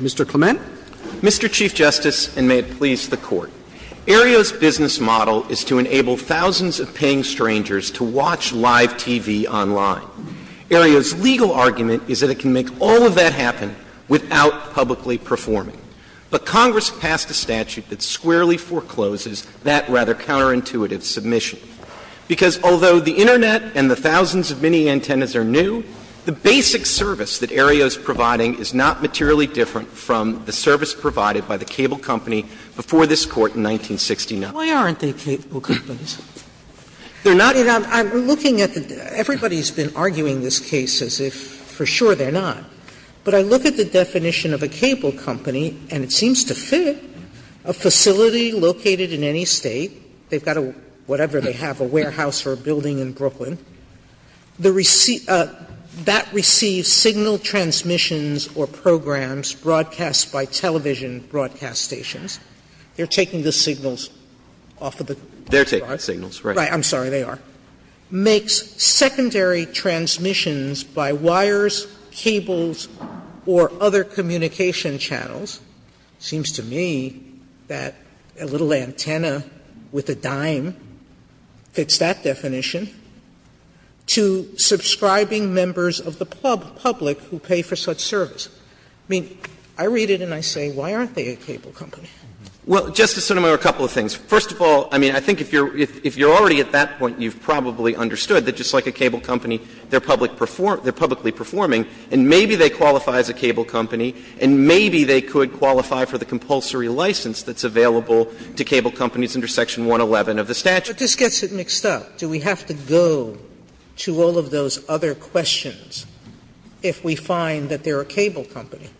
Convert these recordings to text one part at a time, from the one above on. Mr. Clement. Mr. Chief Justice, and may it please the Court, Aereo's business model is to enable thousands of paying strangers to watch live TV online. Aereo's legal argument is that it can make all of that happen without publicly performing. But Congress passed a statute that squarely forecloses that rather counterintuitive submission, because although the Internet and the thousands of mini-antennas are new, the basic service that Aereo is providing is not materially different from the service provided by the cable company before this Court in 1969. Sotomayor, why aren't they cable companies? They're not. Sotomayor, I'm looking at the — everybody's been arguing this case as if for sure they're not. But I look at the definition of a cable company, and it seems to fit a facility located in any State. They've got a — whatever they have, a warehouse or a building in Brooklyn. The receipt — that receives signal transmissions or programs broadcast by television broadcast stations. They're taking the signals off of the broadcasts. They're taking the signals, right. Right. I'm sorry, they are. Makes secondary transmissions by wires, cables, or other communication channels. It seems to me that a little antenna with a dime fits that definition, to subscribing members of the public who pay for such service. I mean, I read it and I say, why aren't they a cable company? Well, Justice Sotomayor, a couple of things. First of all, I mean, I think if you're already at that point, you've probably understood that just like a cable company, they're publicly performing, and maybe they qualify as a cable company, and maybe they could qualify for the compulsory license that's available to cable companies under Section 111 of the statute. Sotomayor, but this gets it mixed up. Do we have to go to all of those other questions if we find that they're a cable company?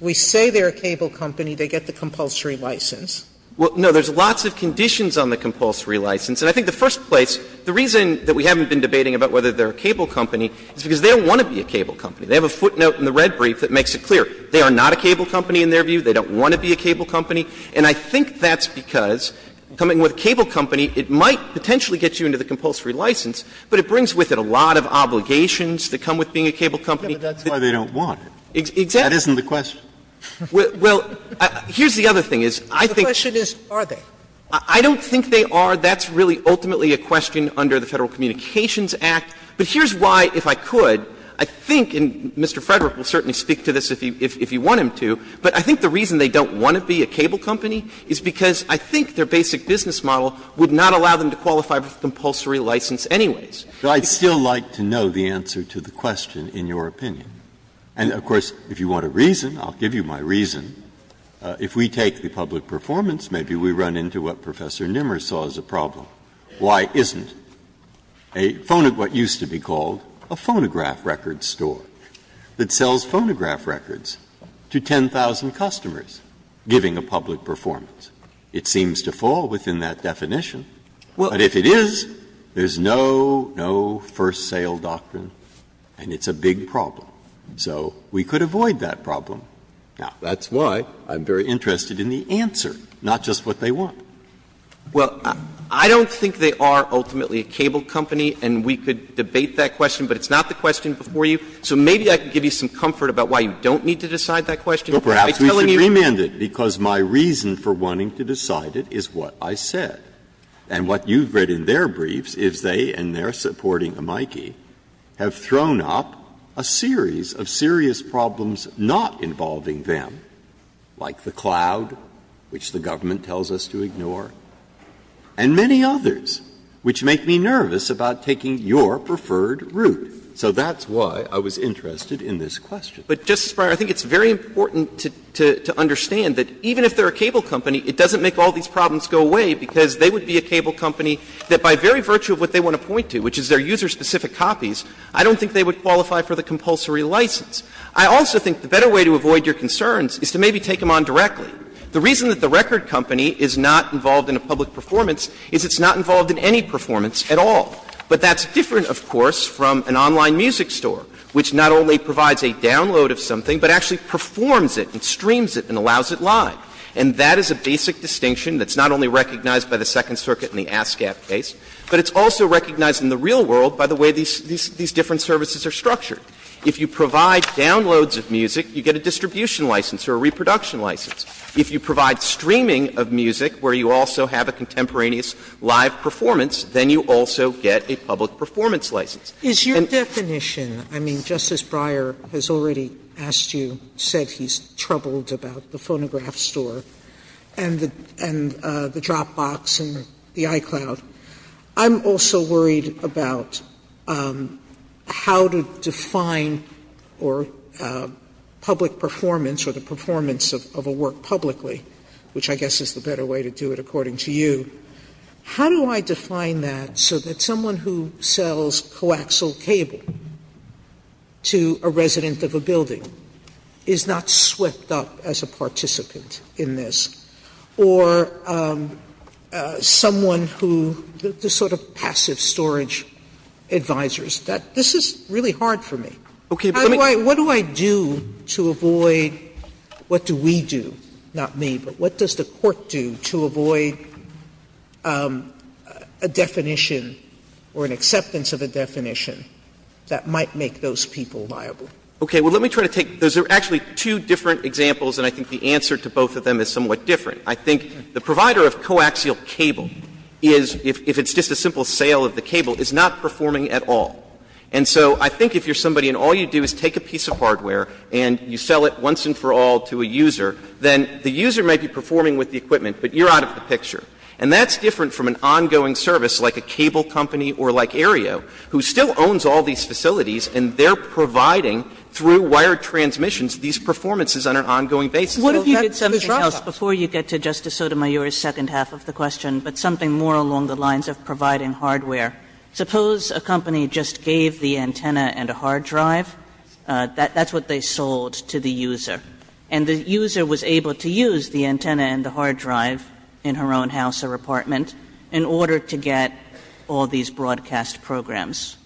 We say they're a cable company, they get the compulsory license. Well, no. There's lots of conditions on the compulsory license. And I think the first place, the reason that we haven't been debating about whether they're a cable company is because they don't want to be a cable company. They have a footnote in the red brief that makes it clear. They are not a cable company in their view. They don't want to be a cable company. And I think that's because coming with a cable company, it might potentially get you into the compulsory license, but it brings with it a lot of obligations that come with being a cable company. Scalia, but that's why they don't want it. That isn't the question. Well, here's the other thing is, I think the question is, are they? I don't think they are. That's really ultimately a question under the Federal Communications Act. But here's why, if I could, I think, and Mr. Frederick will certainly speak to this if you want him to, but I think the reason they don't want to be a cable company is because I think their basic business model would not allow them to qualify for compulsory license anyways. Breyer, I'd still like to know the answer to the question in your opinion. And, of course, if you want a reason, I'll give you my reason. If we take the public performance, maybe we run into what Professor Nimmer saw as a problem. Why isn't? A phonograph, what used to be called a phonograph record store, that sells phonograph records to 10,000 customers giving a public performance? It seems to fall within that definition. But if it is, there's no, no first sale doctrine, and it's a big problem. So we could avoid that problem. Now, that's why I'm very interested in the answer, not just what they want. Well, I don't think they are ultimately a cable company, and we could debate that question, but it's not the question before you. So maybe I could give you some comfort about why you don't need to decide that question by telling you. Breyer, perhaps we should remand it, because my reason for wanting to decide it is what I said. And what you've read in their briefs is they, in their supporting amici, have thrown up a series of serious problems not involving them, like the cloud, which the government tells us to ignore, and many others, which make me nervous about taking your preferred route. So that's why I was interested in this question. But, Justice Breyer, I think it's very important to understand that even if they are a cable company, it doesn't make all these problems go away, because they would be a cable company that, by very virtue of what they want to point to, which is their user-specific copies, I don't think they would qualify for the compulsory license. I also think the better way to avoid your concerns is to maybe take them on directly. The reason that the record company is not involved in a public performance is it's not involved in any performance at all. But that's different, of course, from an online music store, which not only provides a download of something, but actually performs it and streams it and allows it live. And that is a basic distinction that's not only recognized by the Second Circuit in the ASCAP case, but it's also recognized in the real world by the way these different services are structured. If you provide downloads of music, you get a distribution license or a reproduction license. If you provide streaming of music, where you also have a contemporaneous live performance, then you also get a public performance license. And the other thing that I'm concerned about, Justice Sotomayor, is your definition. I mean, Justice Breyer has already asked you, said he's troubled about the Phonograph Store and the Dropbox and the iCloud. I'm also worried about how to define or public performance or the performance of a work publicly, which I guess is the better way to do it, according to you. How do I define that so that someone who sells coaxial cable to a resident of a building is not swept up as a participant in this? Or someone who the sort of passive storage advisors? This is really hard for me. Sotomayor, what do I do to avoid, what do we do, not me, but what does the Court do to avoid a definition or an acceptance of a definition that might make those people liable? Okay. Well, let me try to take, those are actually two different examples, and I think the answer to both of them is somewhat different. I think the provider of coaxial cable is, if it's just a simple sale of the cable, is not performing at all. And so I think if you're somebody and all you do is take a piece of hardware and you sell it once and for all to a user, then the user might be performing with the equipment, but you're out of the picture. And that's different from an ongoing service like a cable company or like Aereo, who still owns all these facilities and they're providing, through wired transmissions, these performances on an ongoing basis. Sotomayor, that's the trouble. Kagan, before you get to Justice Sotomayor's second half of the question, but something more along the lines of providing hardware. Suppose a company just gave the antenna and a hard drive. That's what they sold to the user. And the user was able to use the antenna and the hard drive in her own house or apartment in order to get all these broadcast programs.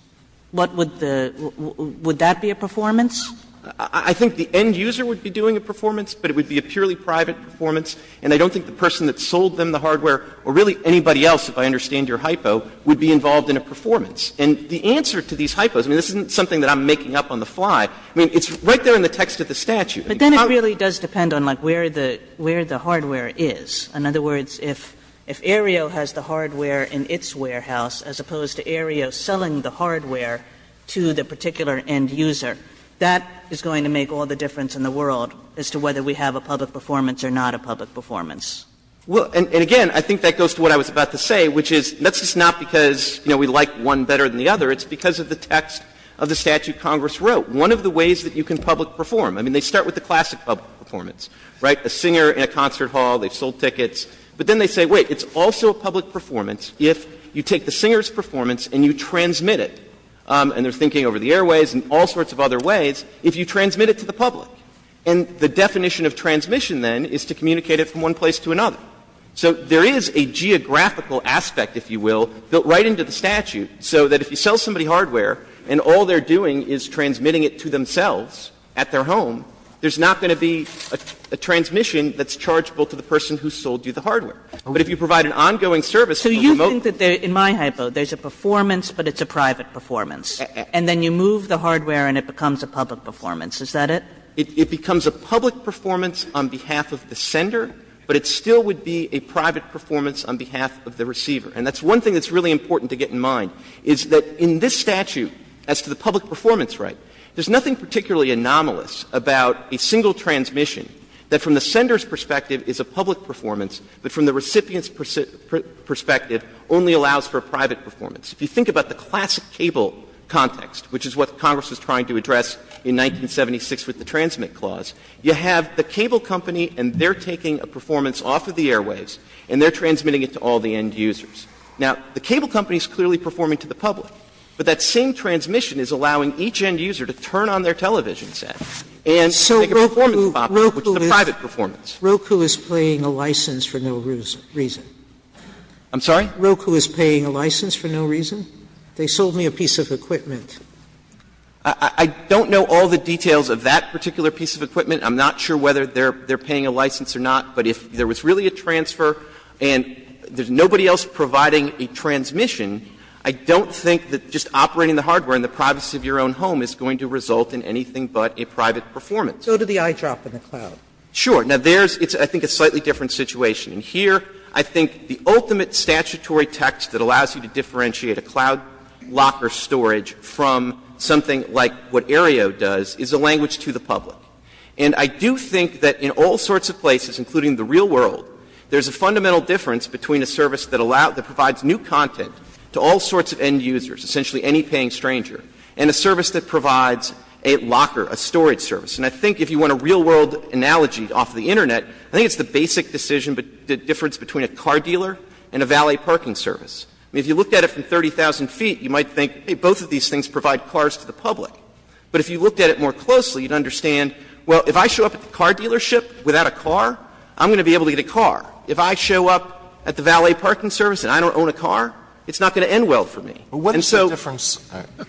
What would the – would that be a performance? I think the end user would be doing a performance, but it would be a purely private performance, and I don't think the person that sold them the hardware, or really anybody else, if I understand your hypo, would be involved in a performance. And the answer to these hypos, I mean, this isn't something that I'm making up on the fly. I mean, it's right there in the text of the statute. Kagan, it really does depend on like where the hardware is. In other words, if Aereo has the hardware in its warehouse as opposed to Aereo selling the hardware to the particular end user, that is going to make all the difference in the world as to whether we have a public performance or not a public performance. Well, and again, I think that goes to what I was about to say, which is that's just not because, you know, we like one better than the other. It's because of the text of the statute Congress wrote. One of the ways that you can public perform, I mean, they start with the classic public performance, right? A singer in a concert hall, they've sold tickets. But then they say, wait, it's also a public performance if you take the singer's performance and you transmit it. And they're thinking over the airways and all sorts of other ways, if you transmit it to the public. And the definition of transmission, then, is to communicate it from one place to another. So there is a geographical aspect, if you will, built right into the statute, so that if you sell somebody hardware and all they're doing is transmitting it to themselves at their home, there's not going to be a transmission that's chargeable to the person who sold you the hardware. But if you provide an ongoing service from a remote place. Kagan. Kagan. Kagan. Kagan. Kagan. Kagan. Kagan. Kagan. Kagan. Kagan. Kagan. Kagan. Kagan. It becomes a public performance on behalf of the sender, but it still would be a private performance on behalf of the receiver. And that's one thing that's really important to get in mind, is that in this statute, as to the public performance right, there's nothing particularly anomalous about a single transmission that from the sender's perspective is a public performance, but from the recipient's perspective only allows for a private performance. If you think about the classic cable context, which is what Congress was trying to address in 1976 with the Transmit Clause, you have the cable company and they're taking a performance off of the airwaves and they're transmitting it to all the end users. Now, the cable company is clearly performing to the public, but that same transmission is allowing each end user to turn on their television set and make a performance pop, which is a private performance. Sotomayor, Roku is paying a license for no reason. I'm sorry? They sold me a piece of equipment. Clemente, I don't know all the details of that particular piece of equipment. I'm not sure whether they're paying a license or not, but if there was really a transfer and there's nobody else providing a transmission, I don't think that just operating the hardware in the privacy of your own home is going to result in anything but a private performance. Sotomayor, Roku, go to the eyedrop in the cloud. Clemente, sure. Now, there's — it's, I think, a slightly different situation. And here, I think the ultimate statutory text that allows you to differentiate a cloud locker storage from something like what Aereo does is a language to the public. And I do think that in all sorts of places, including the real world, there's a fundamental difference between a service that provides new content to all sorts of end users, essentially any paying stranger, and a service that provides a locker, a storage service. And I think if you want a real-world analogy off the Internet, I think it's the basic decision, the difference between a car dealer and a valet parking service. I mean, if you looked at it from 30,000 feet, you might think, hey, both of these things provide cars to the public. But if you looked at it more closely, you'd understand, well, if I show up at the car dealership without a car, I'm going to be able to get a car. If I show up at the valet parking service and I don't own a car, it's not going to end well for me. And so the difference. Alitos,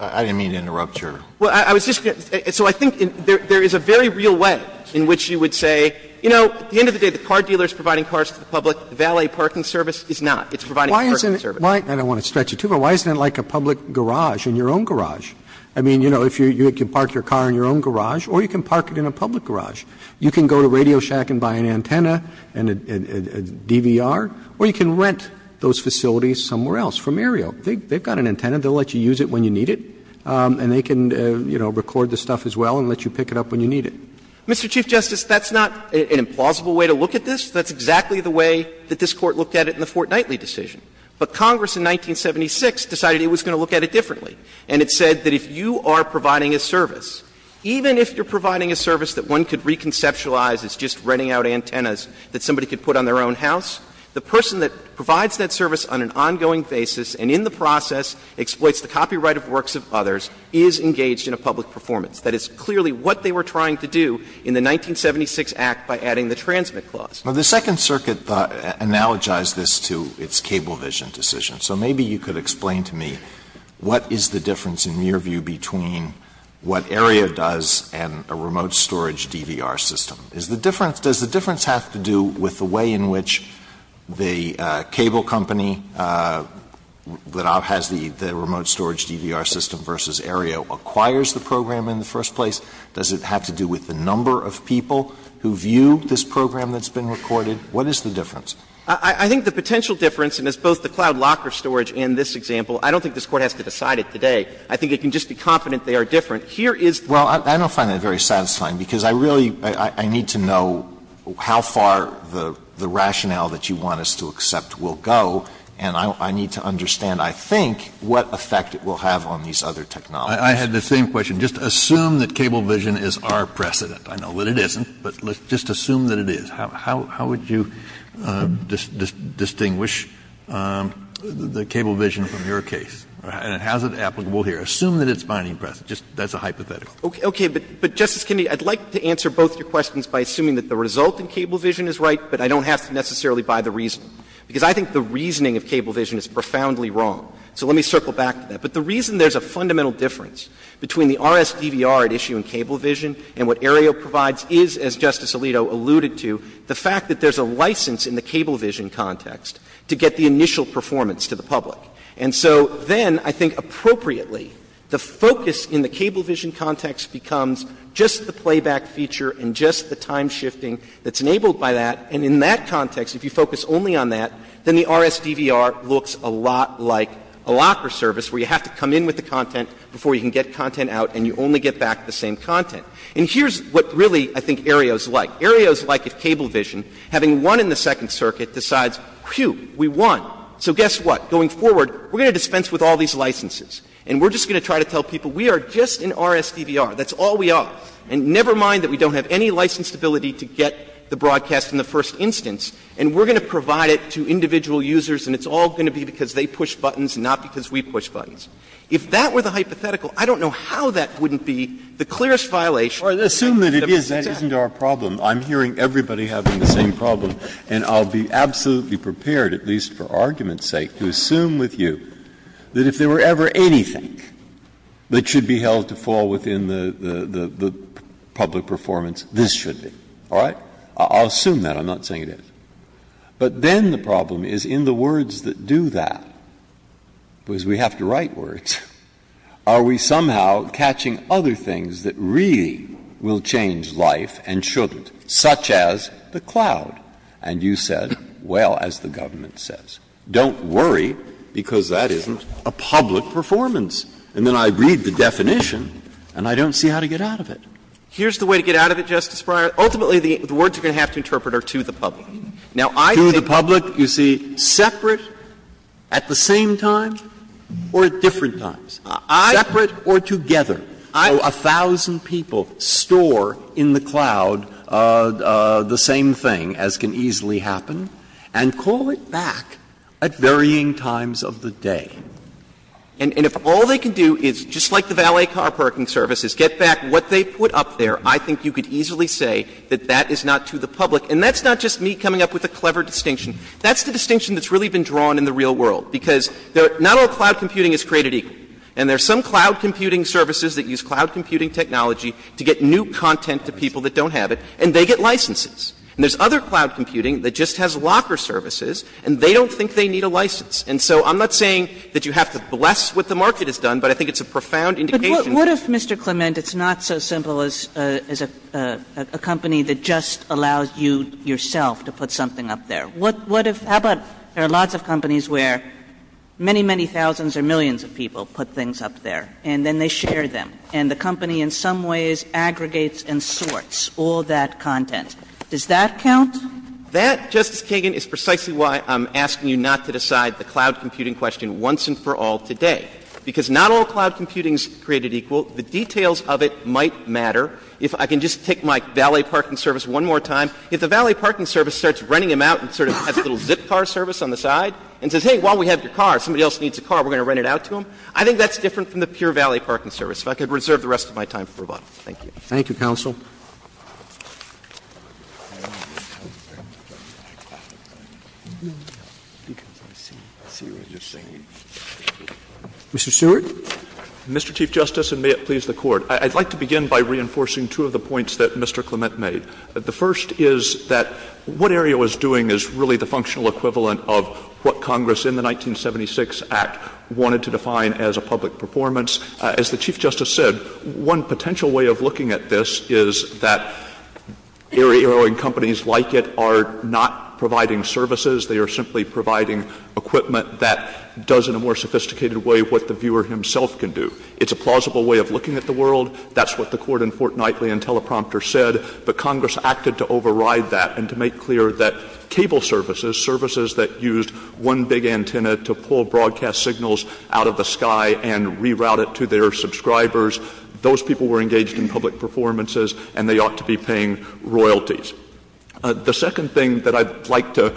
I didn't mean to interrupt your— Clemente, so I think there is a very real way in which you would say, you know, at the end of the day, the car dealer is providing cars to the public, the valet parking service is not. It's providing parking service. Roberts, and I don't want to stretch it too far, why isn't it like a public garage in your own garage? I mean, you know, you can park your car in your own garage or you can park it in a public garage. You can go to Radio Shack and buy an antenna and a DVR, or you can rent those facilities somewhere else, from Aereo. They've got an antenna, they'll let you use it when you need it, and they can, you know, record the stuff as well and let you pick it up when you need it. Clemente, Mr. Chief Justice, that's not an implausible way to look at this. That's exactly the way that this Court looked at it in the Fort Knightley decision. But Congress in 1976 decided it was going to look at it differently, and it said that if you are providing a service, even if you're providing a service that one could reconceptualize as just renting out antennas that somebody could put on their own house, the person that provides that service on an ongoing basis and in the process exploits the copyright of works of others is engaged in a public performance. That is clearly what they were trying to do in the 1976 Act by adding the transmit clause. Now, the Second Circuit analogized this to its Cablevision decision. So maybe you could explain to me what is the difference in your view between what Aereo does and a remote storage DVR system? Is the difference — does the difference have to do with the way in which the cable company that has the remote storage DVR system versus Aereo acquires the program in the first place? Does it have to do with the number of people who view this program that's been recorded? What is the difference? Clements. I think the potential difference, and it's both the cloud locker storage and this example, I don't think this Court has to decide it today. I think it can just be confident they are different. Here is the difference. Well, I don't find that very satisfying, because I really — I need to know how far the rationale that you want us to accept will go, and I need to understand, I think, what effect it will have on these other technologies. I had the same question. Just assume that Cablevision is our precedent. I know that it isn't, but let's just assume that it is. How would you distinguish the Cablevision from your case? And how is it applicable here? Assume that it's binding precedent. Just that's a hypothetical. Okay. But, Justice Kennedy, I'd like to answer both your questions by assuming that the result in Cablevision is right, but I don't have to necessarily buy the reason. Because I think the reasoning of Cablevision is profoundly wrong. So let me circle back to that. But the reason there's a fundamental difference between the RSDVR at issue in Cablevision and what Aereo provides is, as Justice Alito alluded to, the fact that there's a license in the Cablevision context to get the initial performance to the public. And so then, I think appropriately, the focus in the Cablevision context becomes just the playback feature and just the time-shifting that's enabled by that. And in that context, if you focus only on that, then the RSDVR looks a lot like a locker service where you have to come in with the content before you can get content out, and you only get back the same content. And here's what really I think Aereo is like. Aereo is like if Cablevision, having won in the Second Circuit, decides, whew, we won. So guess what? Going forward, we're going to dispense with all these licenses, and we're just going to try to tell people we are just in RSDVR. That's all we are. And never mind that we don't have any license ability to get the broadcast in the first instance, and we're going to provide it to individual users, and it's all going to be because they push buttons, not because we push buttons. If that were the hypothetical, I don't know how that wouldn't be the clearest violation of the principles. Breyer. Breyer. Assume that it isn't our problem. I'm hearing everybody having the same problem, and I'll be absolutely prepared, at least for argument's sake, to assume with you that if there were ever anything that should be held to fall within the public performance, this should be, all right? I'll assume that. I'm not saying it isn't. But then the problem is in the words that do that, because we have to write words, are we somehow catching other things that really will change life and shouldn't, such as the cloud? And you said, well, as the government says, don't worry, because that isn't a public performance. And then I read the definition, and I don't see how to get out of it. Here's the way to get out of it, Justice Breyer. Ultimately, the words you're going to have to interpret are to the public. Now, I think the public, you see, separate at the same time or at different times. Separate or together. A thousand people store in the cloud the same thing, as can easily happen, and call it back at varying times of the day. And if all they can do is, just like the valet car parking services, get back what they put up there, I think you could easily say that that is not to the public. And that's not just me coming up with a clever distinction. That's the distinction that's really been drawn in the real world, because not all cloud computing is created equal. And there's some cloud computing services that use cloud computing technology to get new content to people that don't have it, and they get licenses. And there's other cloud computing that just has locker services, and they don't think they need a license. And so I'm not saying that you have to bless what the market has done, but I think it's a profound indication. Kagan. What if, Mr. Clement, it's not so simple as a company that just allows you, yourself, to put something up there? What if, how about there are lots of companies where many, many thousands or millions of people put things up there, and then they share them, and the company in some ways aggregates and sorts all that content. Does that count? That, Justice Kagan, is precisely why I'm asking you not to decide the cloud computing question once and for all today, because not all cloud computing is created equal. The details of it might matter. If I can just take my valet parking service one more time. If the valet parking service starts renting them out and sort of has a little zip car service on the side and says, hey, while we have your car, somebody else needs a car, we're going to rent it out to them, I think that's different from the pure valet parking service. If I could reserve the rest of my time for rebuttal. Thank you. Thank you, counsel. Mr. Stewart. Mr. Chief Justice, and may it please the Court. I'd like to begin by reinforcing two of the points that Mr. Clement made. The first is that what area was doing is really the functional equivalent of what Congress in the 1976 Act wanted to define as a public performance. As the Chief Justice said, one potential way of looking at this is that area-owing companies like it are not providing services. They are simply providing equipment that does in a more sophisticated way what the viewer himself can do. It's a plausible way of looking at the world. That's what the Court in Fort Knightley and Teleprompter said, but Congress acted to override that and to make clear that cable services, services that used one big to their subscribers, those people were engaged in public performances and they ought to be paying royalties. The second thing that I'd like to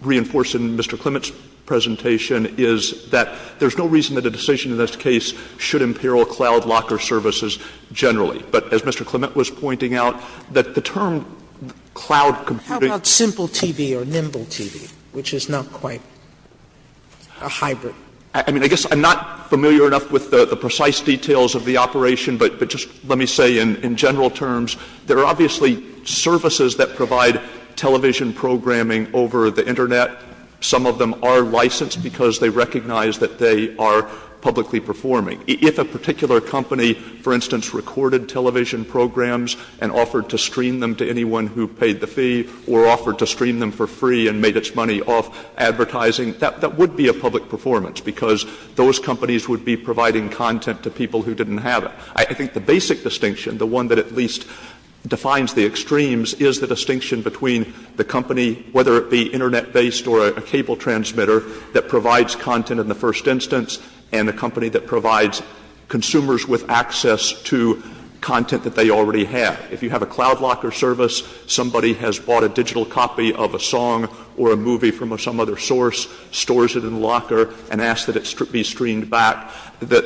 reinforce in Mr. Clement's presentation is that there's no reason that a decision in this case should imperil cloud locker services generally. But as Mr. Clement was pointing out, that the term cloud computing How about Simple TV or Nimble TV, which is not quite a hybrid? I mean, I guess I'm not familiar enough with the precise details of the operation, but just let me say in general terms, there are obviously services that provide television programming over the Internet. Some of them are licensed because they recognize that they are publicly performing. If a particular company, for instance, recorded television programs and offered to stream them to anyone who paid the fee or offered to stream them for free and made its money off advertising, that would be a public performance, because those companies would be providing content to people who didn't have it. I think the basic distinction, the one that at least defines the extremes, is the distinction between the company, whether it be Internet-based or a cable transmitter, that provides content in the first instance, and a company that provides consumers with access to content that they already have. If you have a cloud locker service, somebody has bought a digital copy of a song or a movie from some other source, stores it in the locker, and asks that it be streamed back, the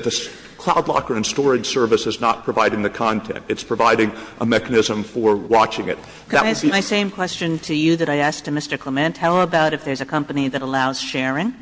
cloud locker and storage service is not providing the content. It's providing a mechanism for watching it. Kagan. Kagan. Can I ask my same question to you that I asked to Mr. Clement? How about if there's a company that allows sharing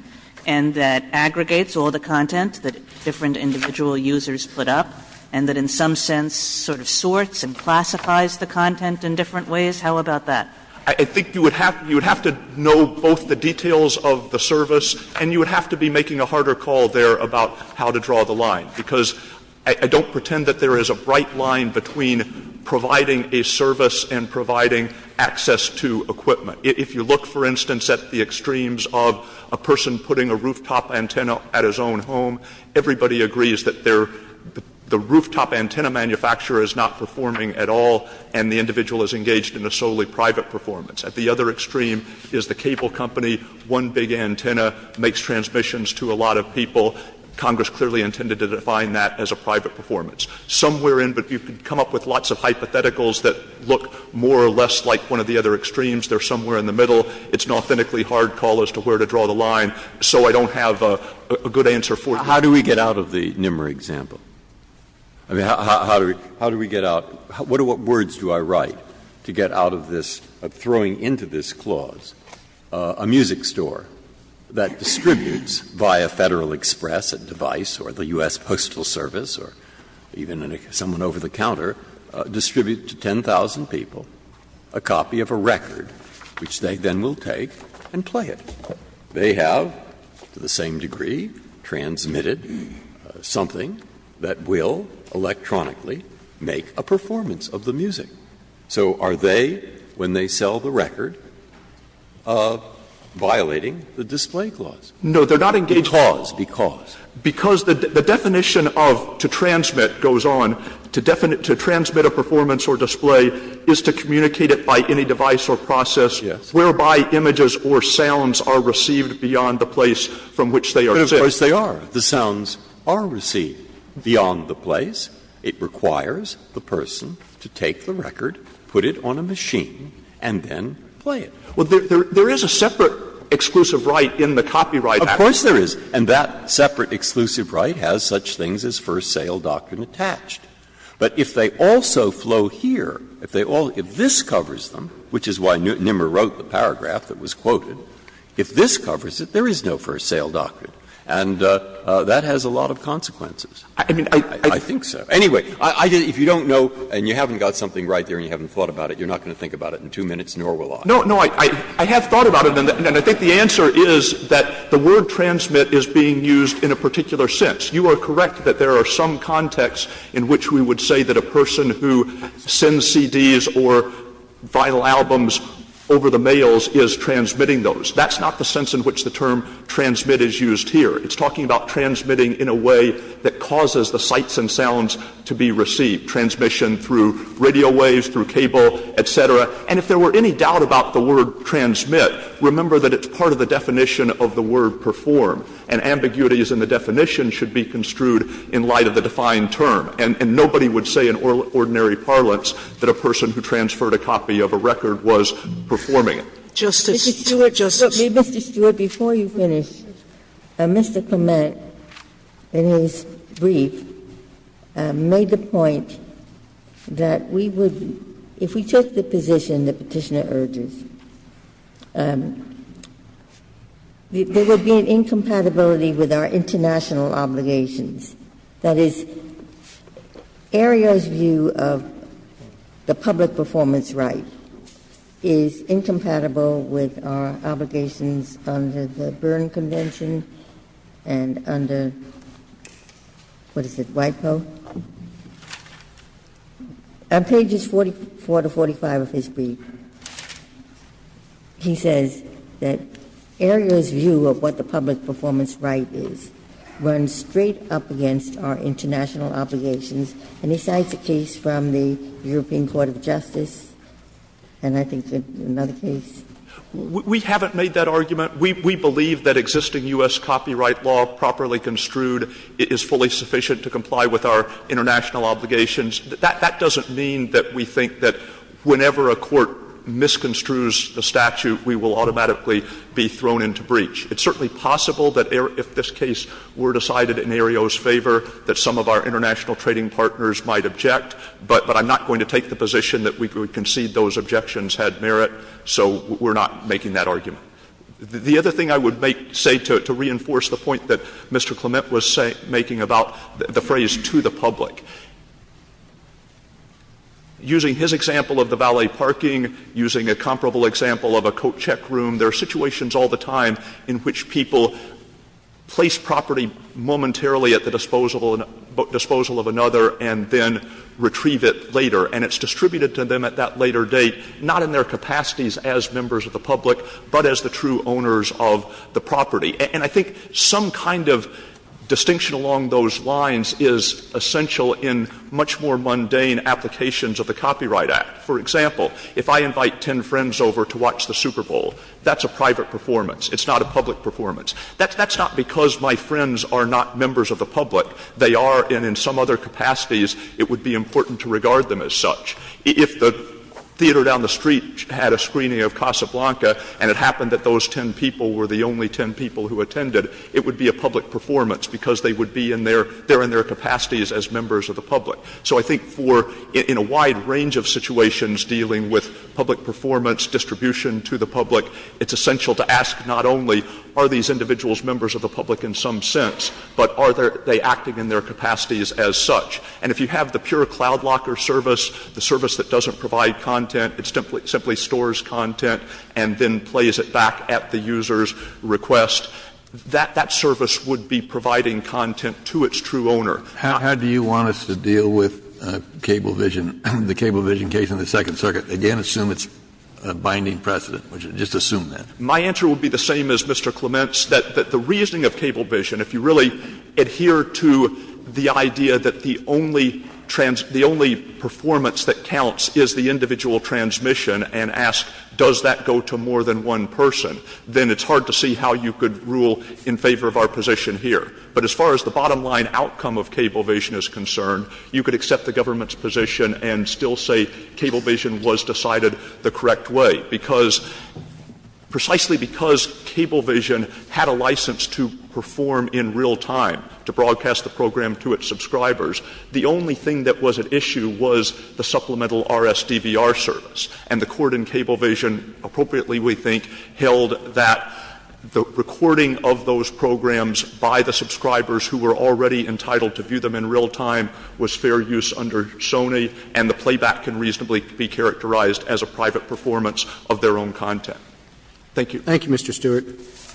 and that aggregates all the content that different individual users put up and that in some sense sort of sorts and classifies the content in different ways? How about that? I think you would have to know both the details of the service and you would have to be making a harder call there about how to draw the line, because I don't pretend that there is a bright line between providing a service and providing access to equipment. If you look, for instance, at the extremes of a person putting a rooftop antenna at his own home, everybody agrees that the rooftop antenna manufacturer is not performing at all and the individual is engaged in a solely private performance. At the other extreme is the cable company, one big antenna makes transmissions to a lot of people. Congress clearly intended to define that as a private performance. Somewhere in, but you can come up with lots of hypotheticals that look more or less like one of the other extremes. They're somewhere in the middle. It's an authentically hard call as to where to draw the line. So I don't have a good answer for you. How do we get out of the NMRI example? I mean, how do we get out of, what words do I write to get out of this, of throwing into this clause a music store that distributes via Federal Express a device or the U.S. Postal Service or even someone over the counter, distributes to 10,000 people a copy of a record, which they then will take and play it. They have, to the same degree, transmitted something that will electronically make a performance of the music. So are they, when they sell the record, violating the display clause? No, they're not engaging the display clause. Because? Because the definition of to transmit goes on. To transmit a performance or display is to communicate it by any device or process whereby images or sounds are received beyond the place from which they are sent. But of course they are. The sounds are received beyond the place. It requires the person to take the record, put it on a machine, and then play it. Well, there is a separate exclusive right in the copyright act. Of course there is. And that separate exclusive right has such things as first sale doctrine attached. But if they also flow here, if they all – if this covers them, which is why Nimmer wrote the paragraph that was quoted, if this covers it, there is no first sale doctrine. And that has a lot of consequences. I mean, I think so. Anyway, if you don't know and you haven't got something right there and you haven't thought about it, you're not going to think about it in 2 minutes, nor will I. No, no, I have thought about it, and I think the answer is that the word transmit is being used in a particular sense. You are correct that there are some contexts in which we would say that a person who sends CDs or vinyl albums over the mails is transmitting those. That's not the sense in which the term transmit is used here. It's talking about transmitting in a way that causes the sights and sounds to be received, transmission through radio waves, through cable, et cetera. And if there were any doubt about the word transmit, remember that it's part of the definition of the word perform. And ambiguities in the definition should be construed in light of the defined term. And nobody would say in ordinary parlance that a person who transferred a copy of a record was performing it. Ginsburg. Mr. Stewart, before you finish, Mr. Clement, in his brief, made the point that we would be, if we took the position the Petitioner urges, there would be an incompatibility with our international obligations. That is, Aereo's view of the public performance right is incompatible with our obligations under the Berne Convention and under, what is it, WIPO? On pages 44 to 45 of his brief, he says that Aereo's view of what the public performance right is runs straight up against our international obligations. And he cites a case from the European Court of Justice, and I think another case. We haven't made that argument. We believe that existing U.S. copyright law properly construed is fully sufficient to comply with our international obligations. That doesn't mean that we think that whenever a court misconstrues the statute, we will automatically be thrown into breach. It's certainly possible that if this case were decided in Aereo's favor, that some of our international trading partners might object. But I'm not going to take the position that we would concede those objections had merit, so we're not making that argument. The other thing I would say to reinforce the point that Mr. Clement was making about the phrase to the public, using his example of the valet parking, using a comparable example of a coat check room, there are situations all the time in which people place property momentarily at the disposal of another and then retrieve it later. And it's distributed to them at that later date, not in their capacities as members of the public, but as the true owners of the property. And I think some kind of distinction along those lines is essential in much more mundane applications of the Copyright Act. For example, if I invite ten friends over to watch the Super Bowl, that's a private performance. It's not a public performance. That's not because my friends are not members of the public. They are, and in some other capacities, it would be important to regard them as such. If the theater down the street had a screening of Casablanca and it happened that those ten people were the only ten people who attended, it would be a public performance because they would be in their — they're in their capacities as members of the public. So I think for — in a wide range of situations dealing with public performance, distribution to the public, it's essential to ask not only are these individuals members of the public in some sense, but are they acting in their capacities as such. And if you have the pure cloud locker service, the service that doesn't provide content, it simply stores content and then plays it back at the user's request, that — that service would be providing content to its true owner. Kennedy How do you want us to deal with Cablevision, the Cablevision case in the Second Circuit? Again, assume it's a binding precedent. Just assume that. Stewart My answer would be the same as Mr. Clement's, that the reasoning of Cablevision, if you really adhere to the idea that the only — the only performance that counts is the individual transmission and ask, does that go to more than one person, then it's hard to see how you could rule in favor of our position here. But as far as the bottom line outcome of Cablevision is concerned, you could accept the government's position and still say Cablevision was decided the correct way, because precisely because Cablevision had a license to perform in real time, to broadcast the program to its subscribers, the only thing that was at issue was the supplemental RSDVR service. And the court in Cablevision appropriately, we think, held that the recording of those programs by the subscribers who were already entitled to view them in real time was fair use under Sony, and the playback can reasonably be characterized as a private performance of their own content. Thank you. Roberts Thank you, Mr. Stewart. Mr.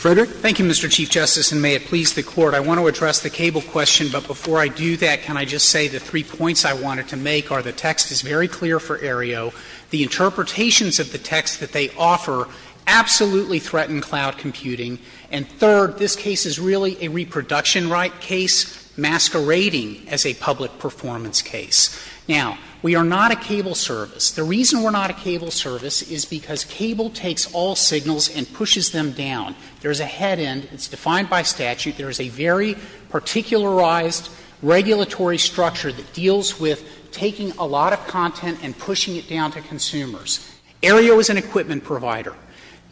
Frederick. Frederick Thank you, Mr. Chief Justice, and may it please the Court, I want to address the Cable question, but before I do that, can I just say the three points I wanted to make are the text is very clear for Aereo, the interpretations of the text that they offer absolutely threaten cloud computing, and third, this case is really a reproduction right case masquerading as a public performance case. Now, we are not a cable service. The reason we're not a cable service is because cable takes all signals and pushes them down. There is a head end. It's defined by statute. There is a very particularized regulatory structure that deals with taking a lot of content and pushing it down to consumers. Aereo is an equipment provider.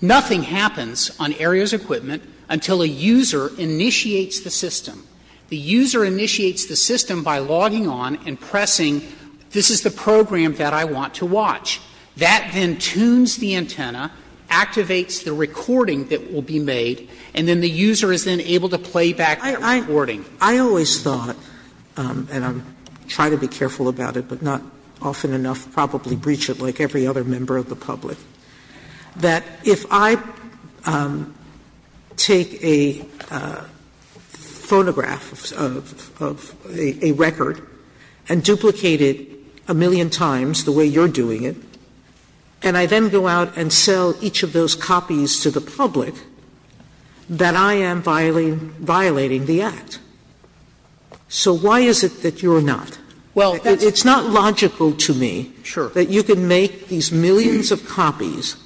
Nothing happens on Aereo's equipment until a user initiates the system. The user initiates the system by logging on and pressing, this is the program that I want to watch. That then tunes the antenna, activates the recording that will be made, and then the user is then able to play back the recording. Sotomayor I always thought, and I'm trying to be careful about it, but not often enough probably breach it like every other member of the public, that if I take a phonograph of a record and duplicate it a million times the way you're doing it, and I then go out and sell each of those copies to the public, that I'm going to be violating the act. So why is it that you're not? It's not logical to me that you can make these millions of copies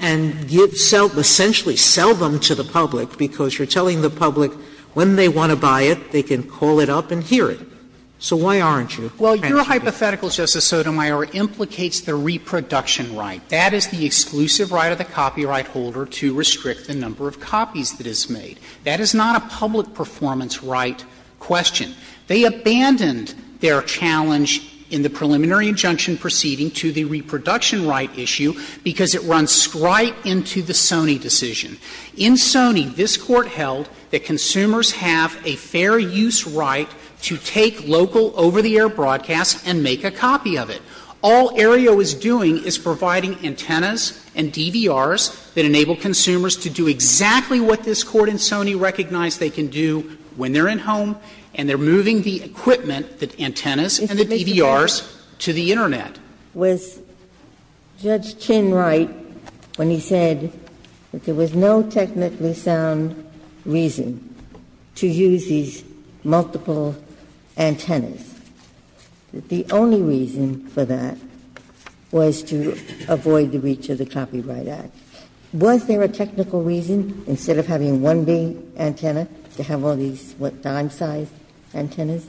and give – essentially sell them to the public because you're telling the public when they want to buy it, they can call it up and hear it. So why aren't you? Well, your hypothetical, Justice Sotomayor, implicates the reproduction right. That is the exclusive right of the copyright holder to restrict the number of copies that is made. That is not a public performance right question. They abandoned their challenge in the preliminary injunction proceeding to the reproduction right issue because it runs right into the Sony decision. In Sony, this Court held that consumers have a fair use right to take local over-the-air broadcasts and make a copy of it. All Aereo is doing is providing antennas and DVRs that enable consumers to do exactly what this Court in Sony recognized they can do when they're in home, and they're moving the equipment, the antennas and the DVRs, to the Internet. Ginsburg. Was Judge Chin right when he said that there was no technically sound reason to use these multiple antennas? The only reason for that was to avoid the reach of the Copyright Act. Was there a technical reason, instead of having one big antenna, to have all these, what, dime-sized antennas?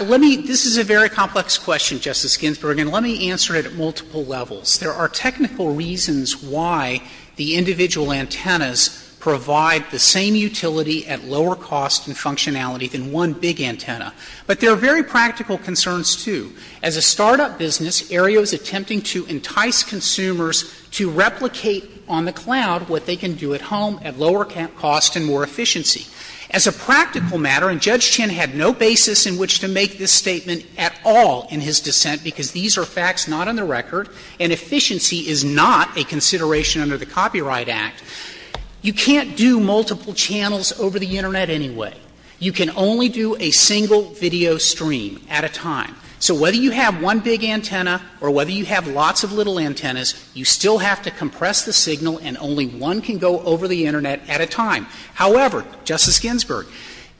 Let me — this is a very complex question, Justice Ginsburg, and let me answer it at multiple levels. There are technical reasons why the individual antennas provide the same utility at lower cost and functionality than one big antenna. But there are very practical concerns, too. As a startup business, Aereo is attempting to entice consumers to replicate on the cloud what they can do at home at lower cost and more efficiency. As a practical matter, and Judge Chin had no basis in which to make this statement at all in his dissent, because these are facts not on the record, and efficiency is not a consideration under the Copyright Act, you can't do multiple channels over the Internet anyway. You can only do a single video stream at a time. So whether you have one big antenna or whether you have lots of little antennas, you still have to compress the signal and only one can go over the Internet at a time. However, Justice Ginsburg,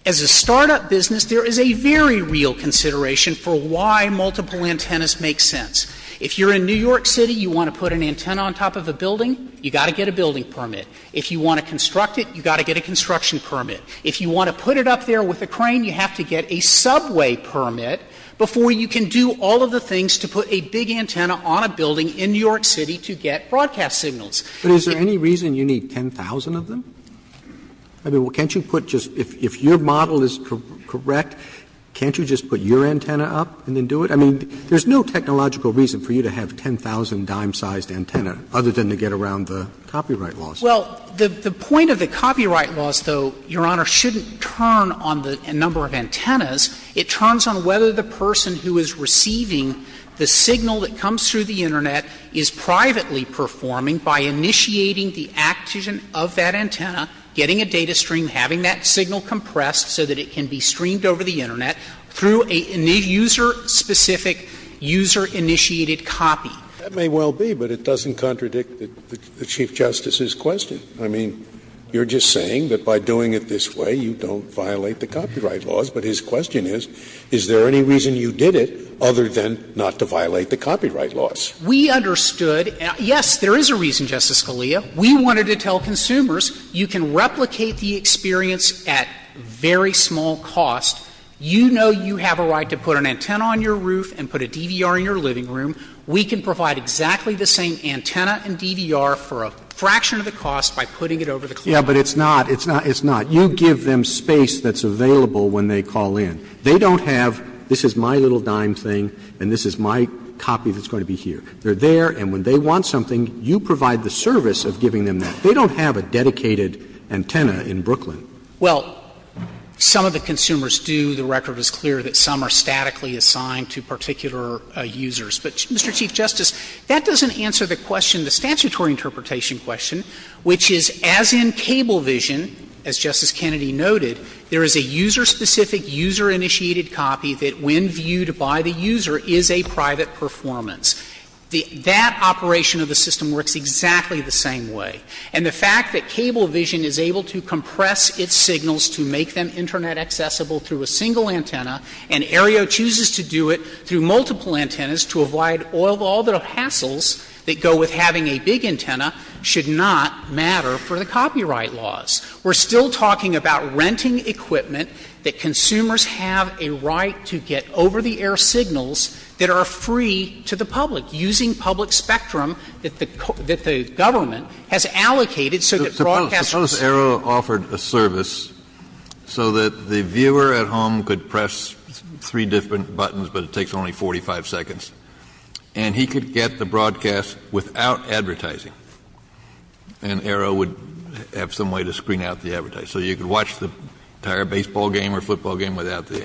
as a startup business, there is a very real consideration for why multiple antennas make sense. If you're in New York City, you want to put an antenna on top of a building, you've got to get a building permit. If you want to construct it, you've got to get a construction permit. If you want to put it up there with a crane, you have to get a subway permit before you can do all of the things to put a big antenna on a building in New York City to get broadcast signals. Roberts. Roberts. But is there any reason you need 10,000 of them? I mean, can't you put just — if your model is correct, can't you just put your antenna up and then do it? I mean, there's no technological reason for you to have 10,000 dime-sized antenna other than to get around the copyright laws. Well, the point of the copyright laws, though, Your Honor, shouldn't turn on the number of antennas. It turns on whether the person who is receiving the signal that comes through the Internet is privately performing by initiating the act of that antenna, getting a data stream, having that signal compressed so that it can be streamed over the Internet through a user-specific, user-initiated copy. That may well be, but it doesn't contradict the Chief Justice's question. I mean, you're just saying that by doing it this way, you don't violate the copyright laws. But his question is, is there any reason you did it other than not to violate the copyright laws? We understood — yes, there is a reason, Justice Scalia. We wanted to tell consumers you can replicate the experience at very small cost. You know you have a right to put an antenna on your roof and put a DVR in your living room. We can provide exactly the same antenna and DVR for a fraction of the cost by putting it over the clearing. Roberts. Yeah, but it's not, it's not, it's not. You give them space that's available when they call in. They don't have, this is my little dime thing and this is my copy that's going to be here. They're there, and when they want something, you provide the service of giving them that. They don't have a dedicated antenna in Brooklyn. Well, some of the consumers do. The record is clear that some are statically assigned to particular users. But, Mr. Chief Justice, that doesn't answer the question, the statutory interpretation question, which is, as in Cablevision, as Justice Kennedy noted, there is a user-specific, user-initiated copy that when viewed by the user is a private performance. That operation of the system works exactly the same way. And the fact that Cablevision is able to compress its signals to make them Internet accessible through a single antenna, and Aereo chooses to do it through multiple antennas to avoid all the hassles that go with having a big antenna, should not matter for the copyright laws. We're still talking about renting equipment that consumers have a right to get over-the-air signals that are free to the public, using public spectrum that the government has allocated so that broadcasters can see. Kennedy, Suppose Aereo offered a service so that the viewer at home could press three different buttons, but it takes only 45 seconds, and he could get the broadcast without advertising, and Aereo would have some way to screen out the advertising. So you could watch the entire baseball game or football game without the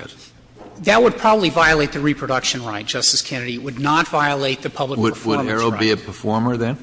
ads. That would probably violate the reproduction right, Justice Kennedy. It would not violate the public performance right. Would Aereo be a performer, then?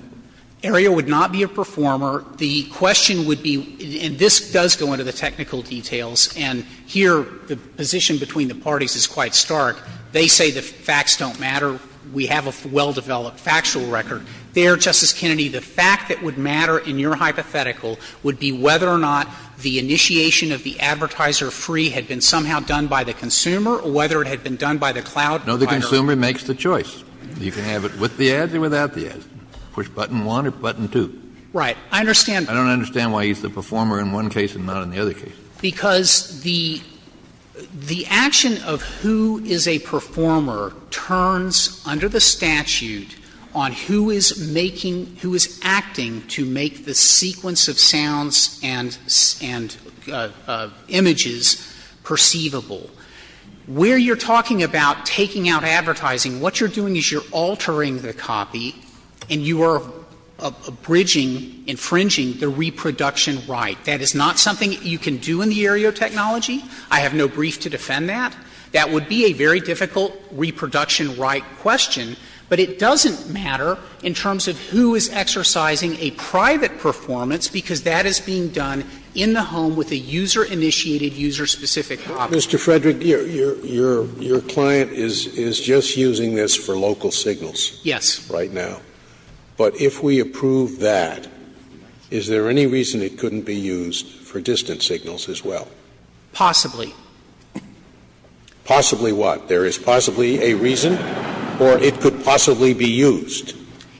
Aereo would not be a performer. The question would be, and this does go into the technical details, and here the position between the parties is quite stark, they say the facts don't matter, we have a well-developed factual record. There, Justice Kennedy, the fact that would matter in your hypothetical would be whether or not the initiation of the advertiser-free had been somehow done by the consumer or whether it had been done by the cloud provider. Kennedy, No, the consumer makes the choice. You can have it with the ads or without the ads. Push button one or button two. Right. I understand. I don't understand why he's the performer in one case and not in the other case. Because the action of who is a performer turns under the statute on who is making who is acting to make the sequence of sounds and images perceivable. Where you're talking about taking out advertising, what you're doing is you're altering the copy and you are abridging, infringing the reproduction right. That is not something you can do in the area of technology. I have no brief to defend that. That would be a very difficult reproduction right question, but it doesn't matter in terms of who is exercising a private performance, because that is being done in the home with a user-initiated, user-specific copy. Scalia, Mr. Frederick, your client is just using this for local signals. Frederick, Yes. Right now. But if we approve that, is there any reason it couldn't be used for distant signals as well? Possibly. Possibly what? There is possibly a reason, or it could possibly be used?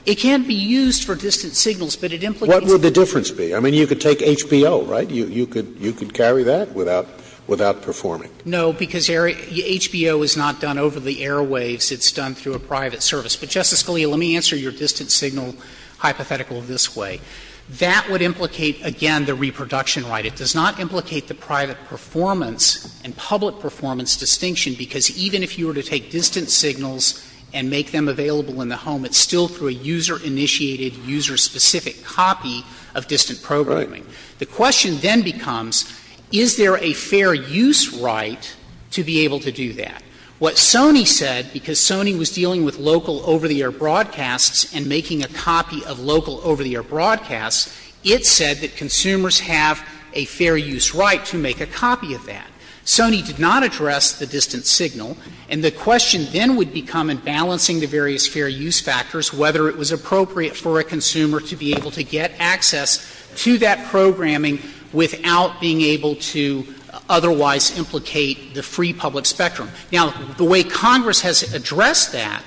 It can't be used for distant signals, but it implicates a difference. What would the difference be? I mean, you could take HBO, right? You could carry that without performing. No, because HBO is not done over the airwaves. It's done through a private service. But, Justice Scalia, let me answer your distant signal hypothetical this way. That would implicate, again, the reproduction right. It does not implicate the private performance and public performance distinction, because even if you were to take distant signals and make them available in the home, it's still through a user-initiated, user-specific copy of distant programming. Right. The question then becomes, is there a fair use right to be able to do that? What Sony said, because Sony was dealing with local over-the-air broadcasts and making a copy of local over-the-air broadcasts, it said that consumers have a fair use right to make a copy of that. Sony did not address the distant signal. And the question then would become, in balancing the various fair use factors, whether it was appropriate for a consumer to be able to get access to that programming without being able to otherwise implicate the free public spectrum. Now, the way Congress has addressed that,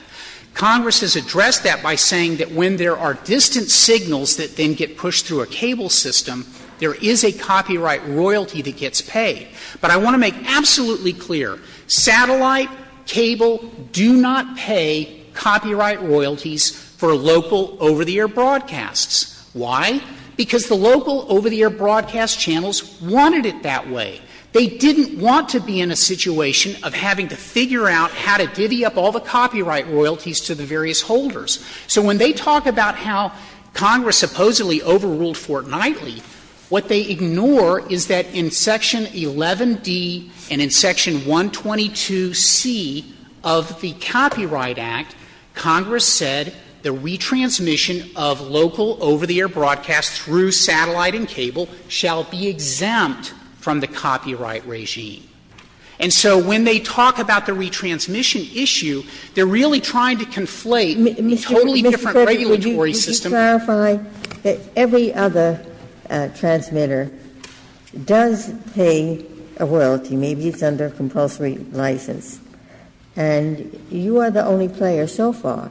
Congress has addressed that by saying that when there are distant signals that then get pushed through a cable system, there is a copyright royalty that gets paid. But I want to make absolutely clear, satellite, cable do not pay copyright royalties for local over-the-air broadcasts. Why? Because the local over-the-air broadcast channels wanted it that way. They didn't want to be in a situation of having to figure out how to divvy up all the copyright royalties to the various holders. So when they talk about how Congress supposedly overruled Fort Knightley, what they ignore is that in Section 11D and in Section 122C of the Copyright Act, Congress said the retransmission of local over-the-air broadcasts through satellite and cable shall be exempt from the copyright regime. And so when they talk about the retransmission issue, they're really trying to conflate Ms. Gifford, would you clarify that every other transmitter does pay a royalty. Maybe it's under compulsory license. And you are the only player so far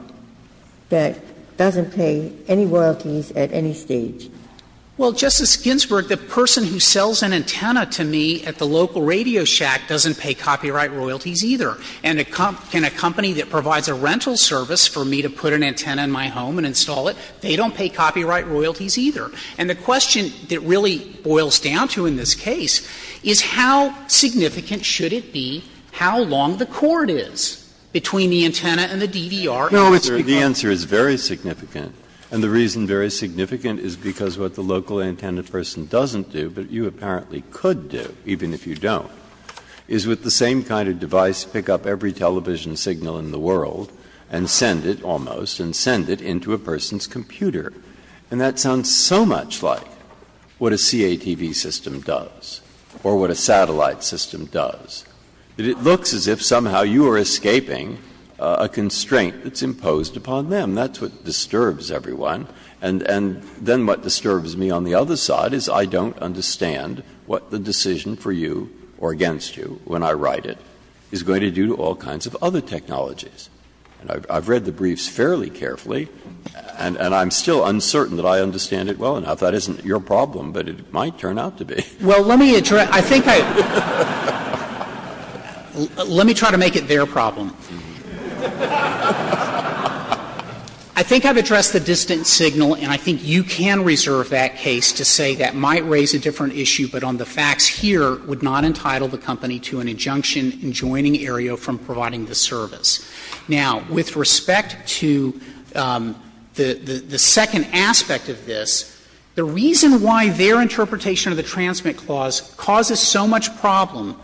that doesn't pay any royalties at any stage. Well, Justice Ginsburg, the person who sells an antenna to me at the local radio shack doesn't pay copyright royalties either. And a company that provides a rental service for me to put an antenna in my home and install it, they don't pay copyright royalties either. And the question that really boils down to in this case is how significant should it be, how long the cord is between the antenna and the DVR? Breyer, the answer is very significant. And the reason very significant is because what the local antenna person doesn't do, but you apparently could do even if you don't, is with the same kind of device pick up every television signal in the world and send it almost and send it into a person's computer. And that sounds so much like what a CATV system does or what a satellite system does, that it looks as if somehow you are escaping a constraint that's imposed upon them. And that's what disturbs everyone. And then what disturbs me on the other side is I don't understand what the decision for you or against you, when I write it, is going to do to all kinds of other technologies. And I've read the briefs fairly carefully, and I'm still uncertain that I understand it well enough. That isn't your problem, but it might turn out to be. Well, let me address that. Let me try to make it their problem. I think I've addressed the distant signal, and I think you can reserve that case to say that might raise a different issue, but on the facts here, would not entitle the company to an injunction in joining Aereo from providing the service. Now, with respect to the second aspect of this, the reason why their interpretation of the transmit clause causes so much problem,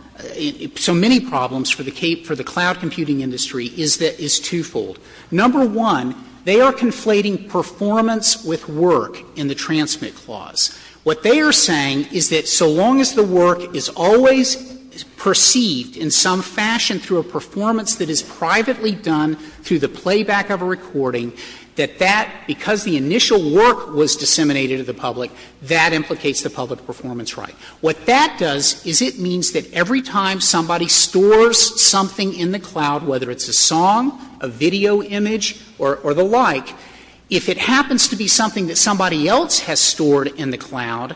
so many problems for the cloud computing industry, is that it's twofold. Number one, they are conflating performance with work in the transmit clause. What they are saying is that so long as the work is always perceived in some fashion through a performance that is privately done through the playback of a recording, that that, because the initial work was disseminated to the public, that implicates the public performance right. What that does is it means that every time somebody stores something in the cloud, whether it's a song, a video image, or the like, if it happens to be something that somebody else has stored in the cloud,